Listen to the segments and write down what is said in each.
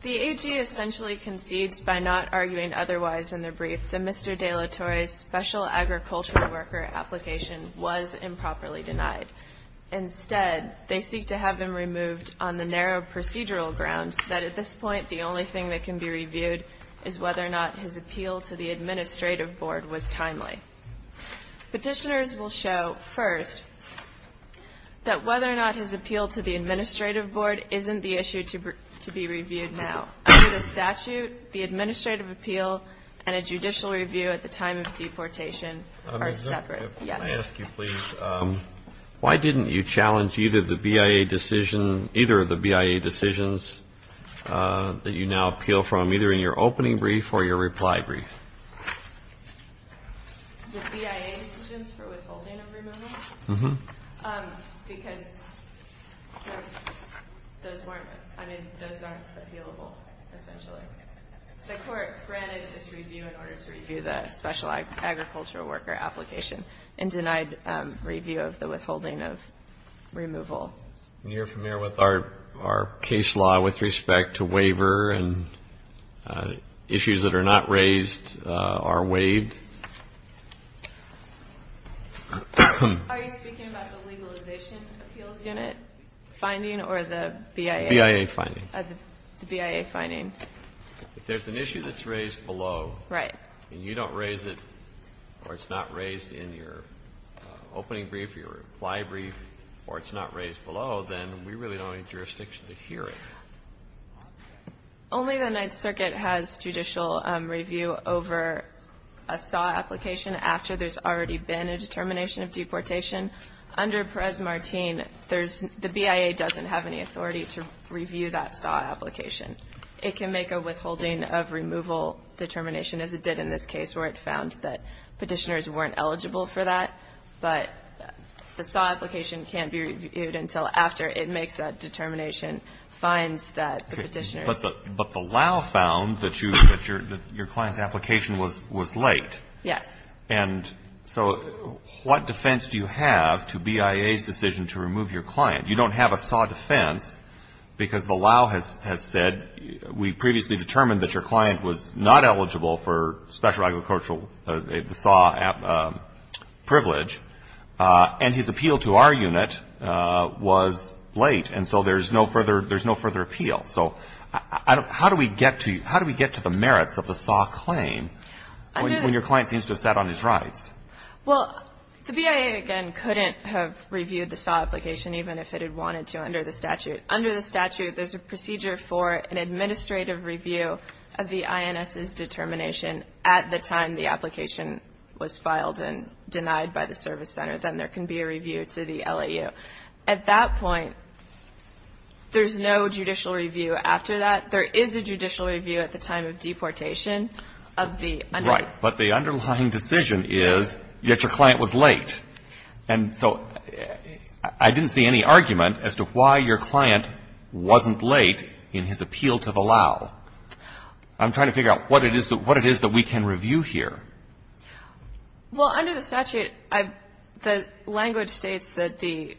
The AG essentially concedes by not arguing otherwise in the brief that Mr. De La Torre's special agricultural worker application was improperly denied. Instead, they seek to have him removed on the narrow procedural grounds that at this point the only thing that can be reviewed is whether or not his appeal to the Administrative Board was timely. Petitioners will show, first, that whether or not his appeal to the Administrative Board isn't the issue to be reviewed now. Under the statute, the Administrative Appeal and a judicial review at the time of deportation are separate. Why didn't you challenge either of the BIA decisions that you now appeal from, either in your opening brief or your reply brief? The BIA decisions for withholding of removal? Uh-huh. Because those weren't, I mean, those aren't appealable, essentially. The court granted this review in order to review the special agricultural worker application and denied review of the withholding of removal. And you're familiar with our case law with respect to waiver and issues that are not raised are waived? Are you speaking about the Legalization Appeals Unit finding or the BIA? BIA finding. The BIA finding. If there's an issue that's raised below and you don't raise it or it's not raised in your opening brief or your reply brief or it's not raised below, then we really don't need jurisdiction to hear it. Only the Ninth Circuit has judicial review over a SAW application after there's already been a determination of deportation. Under Perez-Martin, there's the BIA doesn't have any authority to review that SAW application. It can make a withholding of removal determination, as it did in this case, where it found that Petitioners weren't eligible for that. But the SAW application can't be reviewed until after it makes that determination, finds that the Petitioners. But the LAO found that your client's application was late. Yes. And so what defense do you have to BIA's decision to remove your client? You don't have a SAW defense because the LAO has said, we previously determined that your client was not eligible for special agricultural SAW privilege. And his appeal to our unit was late. And so there's no further appeal. So how do we get to the merits of the SAW claim when your client seems to have sat on his rights? Well, the BIA, again, couldn't have reviewed the SAW application even if it had wanted to under the statute. Under the statute, there's a procedure for an administrative review of the INS's determination at the time the application was filed and denied by the service center. Then there can be a review to the LAO. At that point, there's no judicial review after that. There is a judicial review at the time of deportation of the underlying. Right. But the underlying decision is, yet your client was late. And so I didn't see any argument as to why your client wasn't late in his appeal to the LAO. I'm trying to figure out what it is that we can review here. Well, under the statute, the language states that the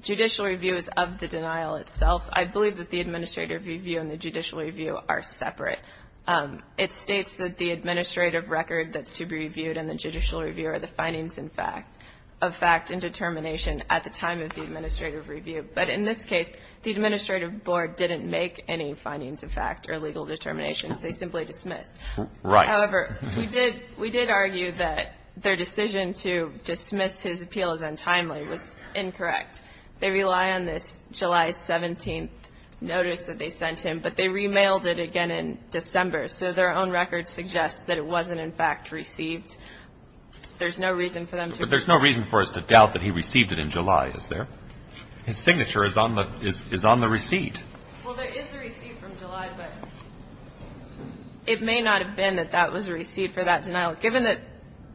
judicial review is of the denial itself. I believe that the administrative review and the judicial review are separate. It states that the administrative record that's to be reviewed and the judicial review are the findings in fact of fact and determination at the time of the administrative review. But in this case, the administrative board didn't make any findings of fact or legal determinations. They simply dismissed. Right. However, we did argue that their decision to dismiss his appeal as untimely was incorrect. They rely on this July 17th notice that they sent him, but they remailed it again in December. So their own record suggests that it wasn't in fact received. There's no reason for them to ---- But there's no reason for us to doubt that he received it in July, is there? His signature is on the receipt. Well, there is a receipt from July, but it may not have been that that was a receipt for that denial. Given that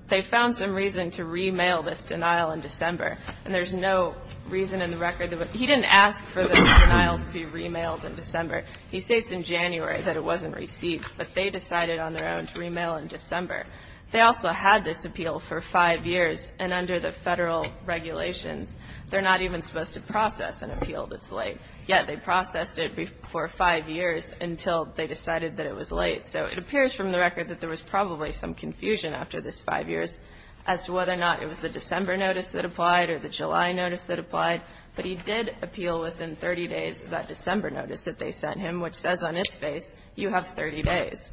they found some reason to remail this denial in December, and there's no reason in the record that ---- He didn't ask for the denial to be remailed in December. He states in January that it wasn't received, but they decided on their own to remail in December. They also had this appeal for five years, and under the Federal regulations, they're not even supposed to process an appeal that's late. Yet they processed it for five years until they decided that it was late. So it appears from the record that there was probably some confusion after this five years as to whether or not it was the December notice that applied or the July notice that applied. But he did appeal within 30 days of that December notice that they sent him, which says on his face, you have 30 days.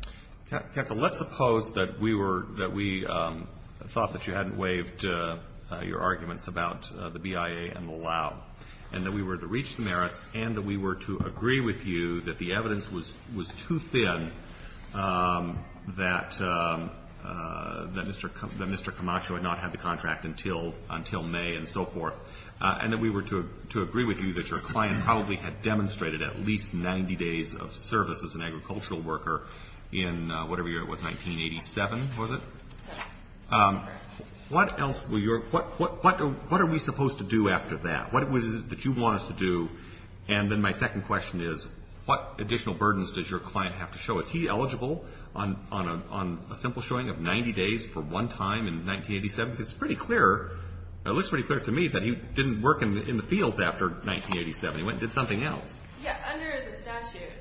Counsel, let's suppose that we were ---- that we thought that you hadn't waived your arguments about the BIA and the Lau, and that we were to reach the merits and that we were to agree with you that the evidence was too thin, that Mr. Camacho had not had the contract until May and so forth, and that we were to agree with you that your client probably had demonstrated at least 90 days of service as an agricultural worker in whatever year it was, 1987, was it? Yes. What else were your ---- what are we supposed to do after that? What was it that you want us to do? And then my second question is, what additional burdens does your client have to show? Is he eligible on a simple showing of 90 days for one time in 1987? Because it's pretty clear ---- it looks pretty clear to me that he didn't work in the fields after 1987. He went and did something else. Yes. Under the statute,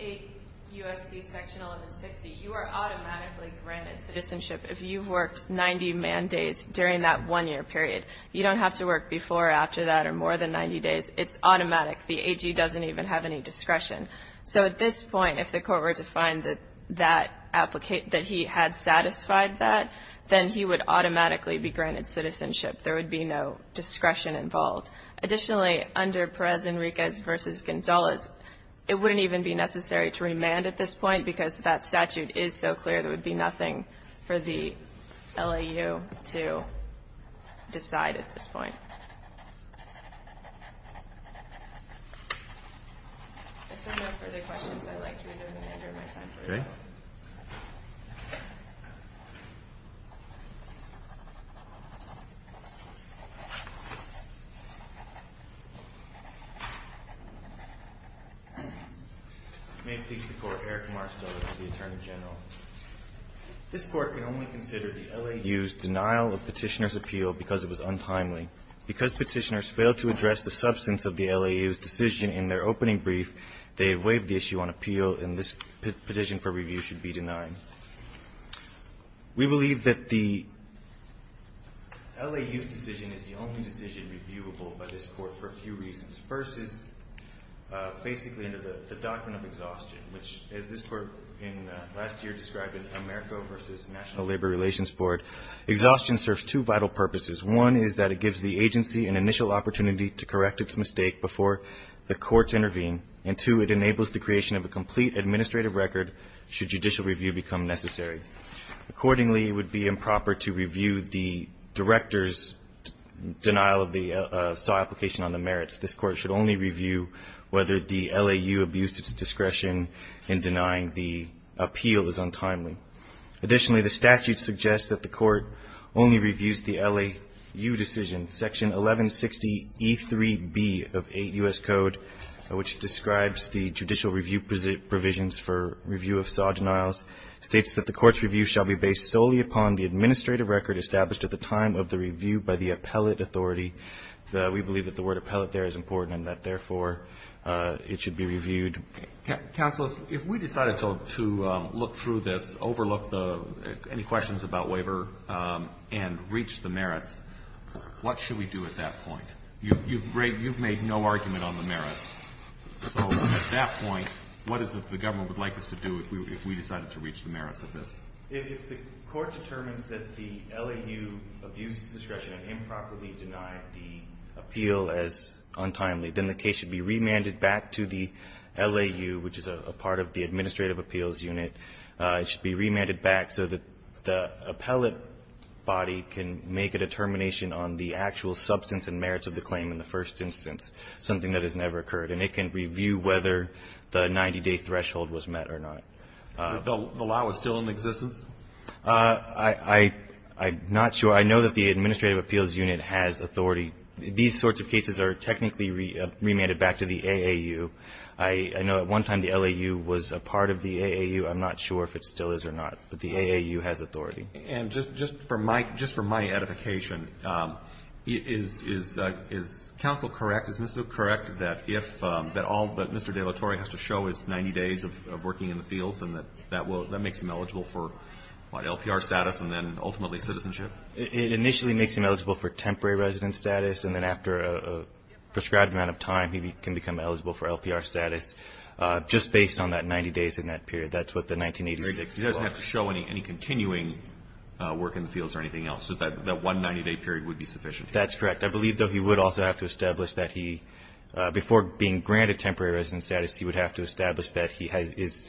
8 U.S.C. section 1160, you are automatically granted citizenship if you've worked 90 man days during that one-year period. You don't have to work before or after that or more than 90 days. It's automatic. The AG doesn't even have any discretion. So at this point, if the court were to find that that ---- that he had satisfied that, then he would automatically be granted citizenship. There would be no discretion involved. Additionally, under Perez Enriquez v. Gonzalez, it wouldn't even be necessary to remand at this point because that statute is so clear there would be nothing for the LAU to decide at this point. If there are no further questions, I'd like to reserve the manager of my time. Okay. Thank you. May it please the Court. Eric Marstow with the Attorney General. This Court can only consider the LAU's denial of Petitioner's appeal because it was untimely. Because Petitioners failed to address the substance of the LAU's decision in their opening brief, they have waived the issue on appeal and this petition for review should be denied. We believe that the LAU's decision is the only decision reviewable by this Court for a few reasons. First is basically under the Doctrine of Exhaustion, which as this Court in last year described in AmeriCorps v. National Labor Relations Board, exhaustion serves two vital purposes. One is that it gives the agency an initial opportunity to correct its mistake before the courts intervene. And two, it enables the creation of a complete administrative record should judicial review become necessary. Accordingly, it would be improper to review the director's denial of the SAW application on the merits. This Court should only review whether the LAU abused its discretion in denying the appeal is untimely. Additionally, the statute suggests that the Court only reviews the LAU decision, Section 1160E3b of 8 U.S. Code, which describes the judicial review provisions for review of SAW denials, states that the Court's review shall be based solely upon the administrative record established at the time of the review by the appellate authority. We believe that the word appellate there is important and that, therefore, it should be reviewed. Counsel, if we decided to look through this, overlook any questions about waiver and reach the merits, what should we do at that point? You've made no argument on the merits. So at that point, what is it the government would like us to do if we decided to reach the merits of this? If the Court determines that the LAU abused its discretion and improperly denied the appeal as untimely, then the case should be remanded back to the LAU, which is a part of the Administrative Appeals Unit. It should be remanded back so that the appellate body can make a determination on the actual substance and merits of the claim in the first instance, something that has never occurred. And it can review whether the 90-day threshold was met or not. The LAU is still in existence? I'm not sure. I know that the Administrative Appeals Unit has authority. These sorts of cases are technically remanded back to the AAU. I know at one time the LAU was a part of the AAU. I'm not sure if it still is or not. But the AAU has authority. And just for my edification, is counsel correct, is Mr. Duke correct, that all that Mr. De La Torre has to show is 90 days of working in the fields and that makes him eligible for LPR status and then ultimately citizenship? It initially makes him eligible for temporary resident status, and then after a prescribed amount of time he can become eligible for LPR status, just based on that 90 days in that period. That's what the 1986 clause says. He doesn't have to show any continuing work in the fields or anything else, so that one 90-day period would be sufficient. That's correct. I believe, though, he would also have to establish that he, before being granted temporary resident status, he would have to establish that he is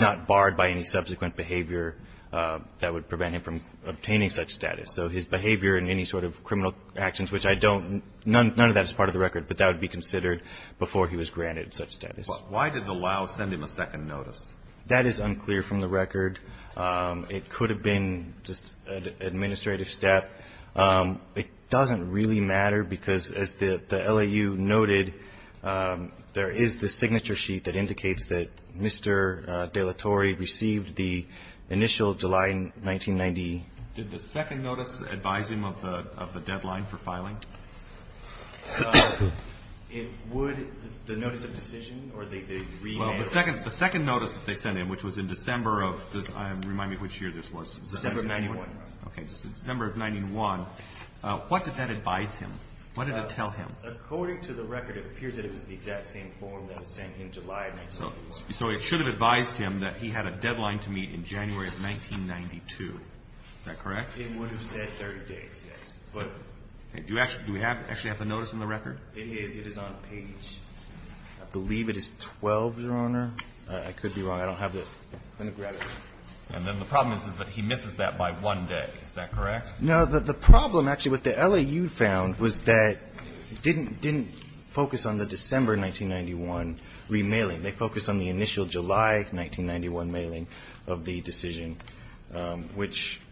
not barred by any subsequent behavior that would prevent him from obtaining such status. So his behavior in any sort of criminal actions, which I don't, none of that is part of the record, but that would be considered before he was granted such status. Why did the LAU send him a second notice? That is unclear from the record. It could have been just an administrative step. It doesn't really matter because, as the LAU noted, there is the signature sheet that indicates that Mr. De La Torre received the initial July 1990. Did the second notice advise him of the deadline for filing? It would, the notice of decision, or the remand? Well, the second notice that they sent him, which was in December of, remind me which year this was. December of 1991. Okay. December of 1991. What did that advise him? What did it tell him? According to the record, it appears that it was the exact same form that was sent in July of 1991. So it should have advised him that he had a deadline to meet in January of 1992. Is that correct? It would have said 30 days, yes. Do we actually have the notice in the record? It is. It is on page, I believe it is 12. Page 12, Your Honor. I could be wrong. I don't have it. I'm going to grab it. And then the problem is that he misses that by one day. Is that correct? No. The problem, actually, with the LAU found was that it didn't focus on the December 1991 remailing. They focused on the initial July 1991 mailing of the decision, which –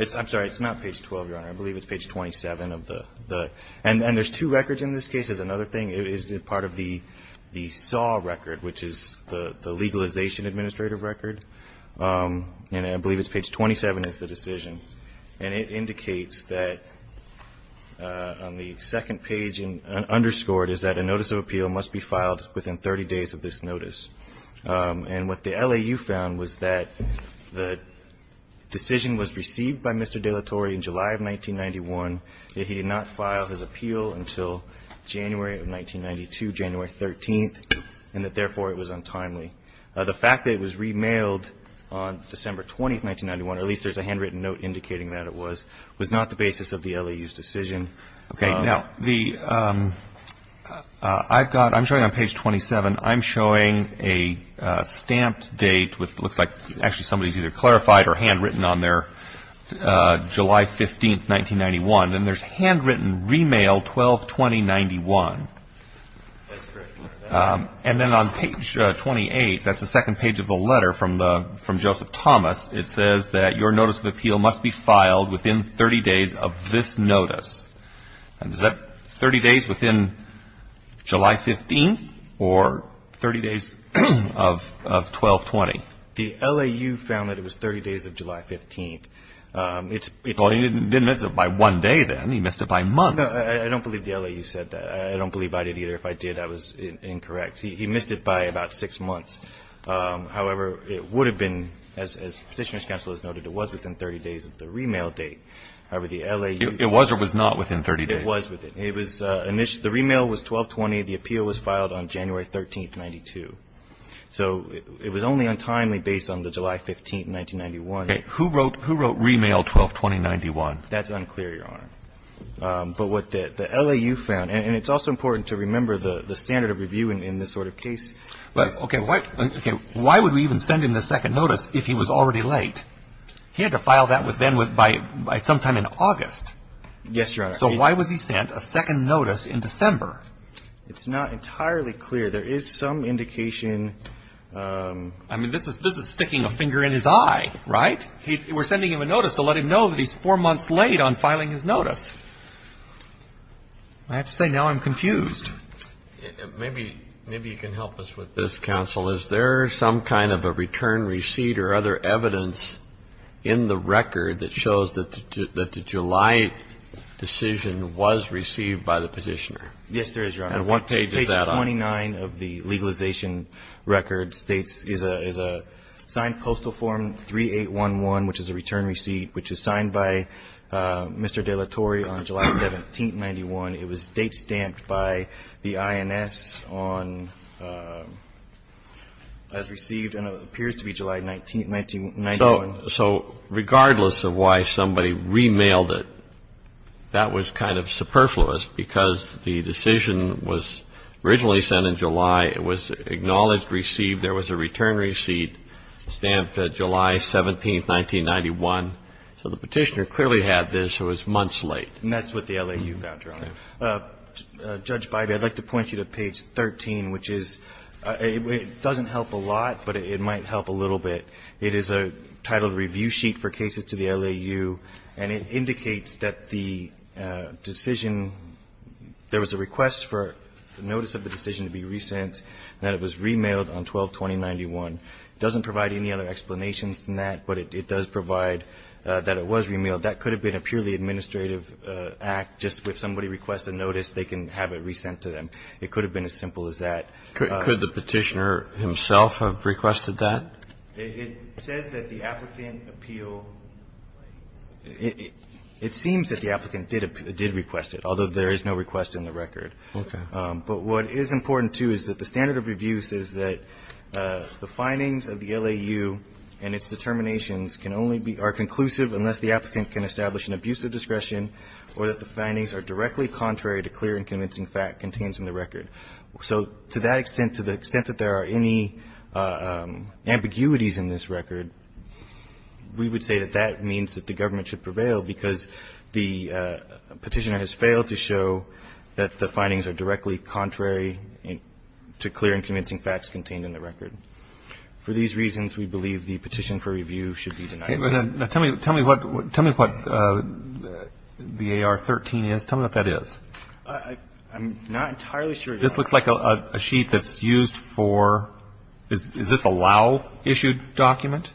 I'm sorry. It's not page 12, Your Honor. I believe it's page 27 of the – and there's two records in this case. There's another thing. It is part of the SAW record, which is the Legalization Administrative Record. And I believe it's page 27 is the decision. And it indicates that on the second page, underscored, is that a notice of appeal must be filed within 30 days of this notice. And what the LAU found was that the decision was received by Mr. De La Torre in July of 1991, that he did not file his appeal until January of 1992, January 13th, and that therefore it was untimely. The fact that it was remailed on December 20th, 1991, or at least there's a handwritten note indicating that it was, was not the basis of the LAU's decision. Okay. Now, the – I've got – I'm showing on page 27. I'm showing a stamped date with – looks like actually somebody's either clarified or handwritten on there, July 15th, 1991. And there's handwritten, Remail 12-20-91. That's correct, Your Honor. And then on page 28, that's the second page of the letter from Joseph Thomas. It says that your notice of appeal must be filed within 30 days of this notice. And is that 30 days within July 15th or 30 days of 12-20? The LAU found that it was 30 days of July 15th. It's – Well, he didn't miss it by one day, then. He missed it by months. No, I don't believe the LAU said that. I don't believe I did either. If I did, I was incorrect. He missed it by about six months. However, it would have been, as Petitioner's counsel has noted, it was within 30 days of the remail date. However, the LAU – It was or was not within 30 days? It was within. It was – the remail was 12-20. The appeal was filed on January 13th, 1992. So it was only untimely based on the July 15th, 1991. Okay. Who wrote Remail 12-20-91? That's unclear, Your Honor. But what the LAU found – and it's also important to remember the standard of review in this sort of case. Okay. Why would we even send him the second notice if he was already late? He had to file that then by sometime in August. Yes, Your Honor. So why was he sent a second notice in December? It's not entirely clear. There is some indication – I mean, this is sticking a finger in his eye, right? We're sending him a notice to let him know that he's four months late on filing his notice. I have to say, now I'm confused. Maybe you can help us with this, counsel. Is there some kind of a return receipt or other evidence in the record that shows that the July decision was received by the petitioner? Yes, there is, Your Honor. And what page is that on? Page 29 of the legalization record states – is a signed postal form 3811, which is a return receipt, which was signed by Mr. De La Torre on July 17th, 1991. It was date stamped by the INS on – as received, and it appears to be July 19th, 1991. So regardless of why somebody remailed it, that was kind of superfluous because the decision was originally sent in July. It was acknowledged, received. There was a return receipt stamped July 17th, 1991. So the petitioner clearly had this who was months late. And that's what the LAU found, Your Honor. Okay. Judge Bybee, I'd like to point you to page 13, which is – it doesn't help a lot, but it might help a little bit. It is a titled review sheet for cases to the LAU, and it indicates that the decision – there was a request for the notice of the decision to be resent, and that it was remailed on 12-2091. It doesn't provide any other explanations than that, but it does provide that it was remailed. That could have been a purely administrative act. Just if somebody requests a notice, they can have it resent to them. It could have been as simple as that. Could the petitioner himself have requested that? It says that the applicant appealed. It seems that the applicant did request it, although there is no request in the record. Okay. But what is important, too, is that the standard of reviews is that the findings of the LAU and its determinations can only be – are conclusive unless the applicant can establish an abuse of discretion or that the findings are directly contrary to clear and convincing fact contained in the record. So to that extent, to the extent that there are any ambiguities in this record, we would say that that means that the government should prevail because the petitioner has failed to show that the findings are directly contrary to clear and convincing facts contained in the record. For these reasons, we believe the petition for review should be denied. Now, tell me what the AR-13 is. Tell me what that is. I'm not entirely sure. This looks like a sheet that's used for – is this a LAU-issued document?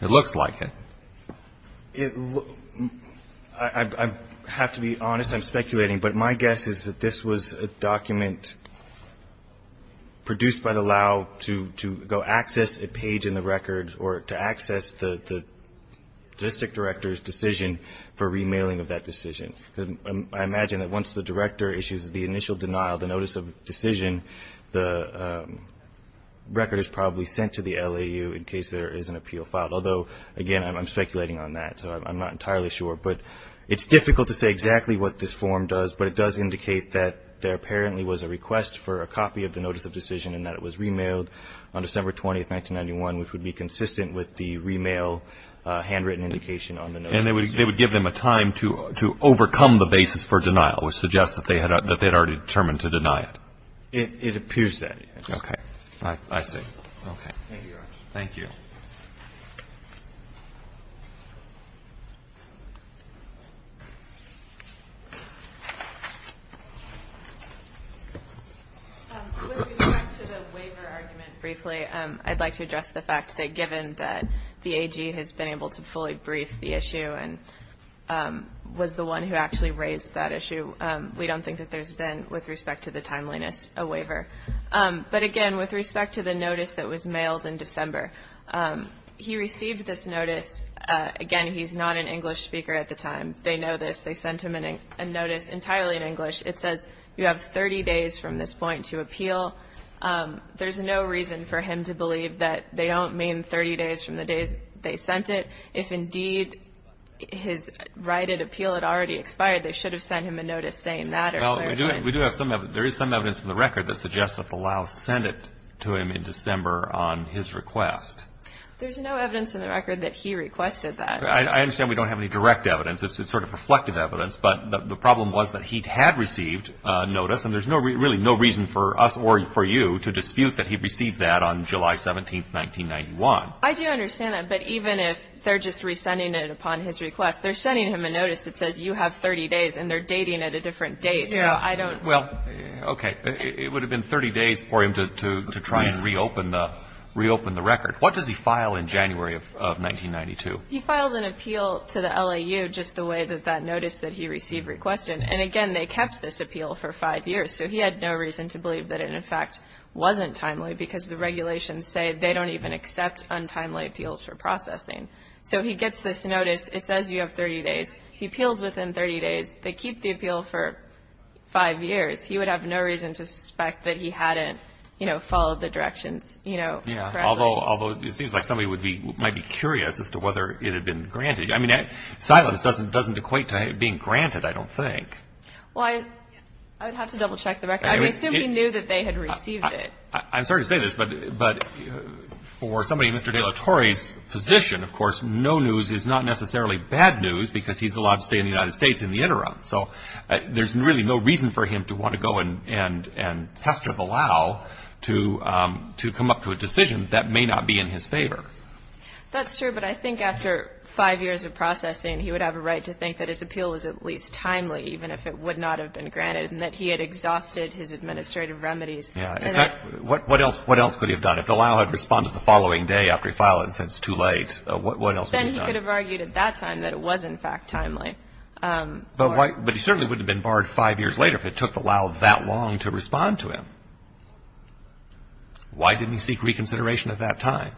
It looks like it. I have to be honest. I'm speculating. But my guess is that this was a document produced by the LAU to go access a page in the record or to access the district director's decision for remailing of that decision. I imagine that once the director issues the initial denial, the notice of decision, the record is probably sent to the LAU in case there is an appeal filed. Although, again, I'm speculating on that, so I'm not entirely sure. But it's difficult to say exactly what this form does, but it does indicate that there apparently was a request for a copy of the notice of decision and that it was remailed on December 20, 1991, which would be consistent with the remail handwritten indication on the notice of decision. And they would give them a time to overcome the basis for denial, which suggests that they had already determined to deny it. It appears that way. Okay. I see. Okay. Thank you, Your Honor. Thank you. Thank you. With respect to the waiver argument briefly, I'd like to address the fact that given that the AG has been able to fully brief the issue and was the one who actually raised that issue, we don't think that there's been, with respect to the timeliness, a waiver. But, again, with respect to the notice that was mailed in December, he received this notice. Again, he's not an English speaker at the time. They know this. They sent him a notice entirely in English. It says you have 30 days from this point to appeal. There's no reason for him to believe that they don't mean 30 days from the day they sent it. If, indeed, his right at appeal had already expired, they should have sent him a notice saying that. Well, there is some evidence in the record that suggests that the Laos sent it to him in December on his request. There's no evidence in the record that he requested that. I understand we don't have any direct evidence. It's sort of reflective evidence. But the problem was that he had received a notice, and there's really no reason for us or for you to dispute that he received that on July 17, 1991. I do understand that. But even if they're just resending it upon his request, they're sending him a notice that says you have 30 days, and they're dating at a different date. Yeah, well, okay. It would have been 30 days for him to try and reopen the record. What does he file in January of 1992? He filed an appeal to the LAU just the way that that notice that he received requested. And, again, they kept this appeal for five years. So he had no reason to believe that it, in fact, wasn't timely because the regulations say they don't even accept untimely appeals for processing. So he gets this notice. It says you have 30 days. He appeals within 30 days. They keep the appeal for five years. He would have no reason to suspect that he hadn't, you know, followed the directions, you know, correctly. Yeah, although it seems like somebody might be curious as to whether it had been granted. I mean, silence doesn't equate to it being granted, I don't think. Well, I would have to double-check the record. I assume he knew that they had received it. I'm sorry to say this, but for somebody in Mr. De La Torre's position, of course, no news is not necessarily bad news because he's allowed to stay in the United States in the interim. So there's really no reason for him to want to go and pester the LAU to come up to a decision that may not be in his favor. That's true. But I think after five years of processing, he would have a right to think that his appeal was at least timely, even if it would not have been granted, and that he had exhausted his administrative remedies. Yeah. What else could he have done? If the LAU had responded the following day after he filed it and said it's too late, what else would he have done? Then he could have argued at that time that it was, in fact, timely. But he certainly wouldn't have been barred five years later if it took the LAU that long to respond to him. Why didn't he seek reconsideration at that time?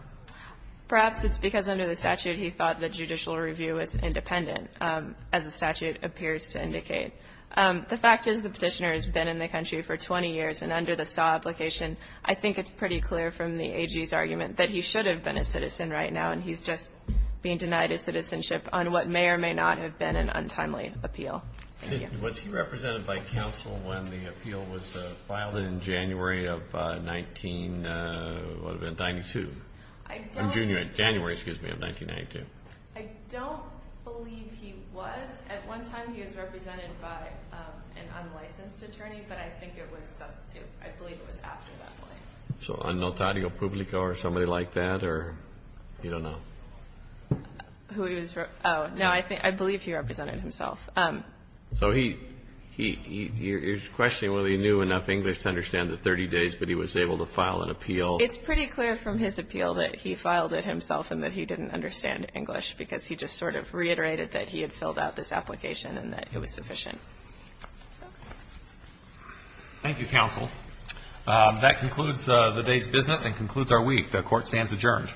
Perhaps it's because under the statute he thought the judicial review was independent, as the statute appears to indicate. The fact is the Petitioner has been in the country for 20 years, and under the SAW application, I think it's pretty clear from the AG's argument that he should have been a citizen right now, and he's just being denied his citizenship on what may or may not have been an untimely appeal. Thank you. Was he represented by counsel when the appeal was filed in January of 1992? I'm junior. January, excuse me, of 1992. I don't believe he was. At one time he was represented by an unlicensed attorney, but I think it was, I believe it was after that. So a notario publico or somebody like that, or you don't know? Who he was, oh, no, I believe he represented himself. So he's questioning whether he knew enough English to understand the 30 days, but he was able to file an appeal. It's pretty clear from his appeal that he filed it himself and that he didn't understand English because he just sort of reiterated that he had filled out this application and that it was sufficient. Thank you, counsel. That concludes the day's business and concludes our week. The Court stands adjourned.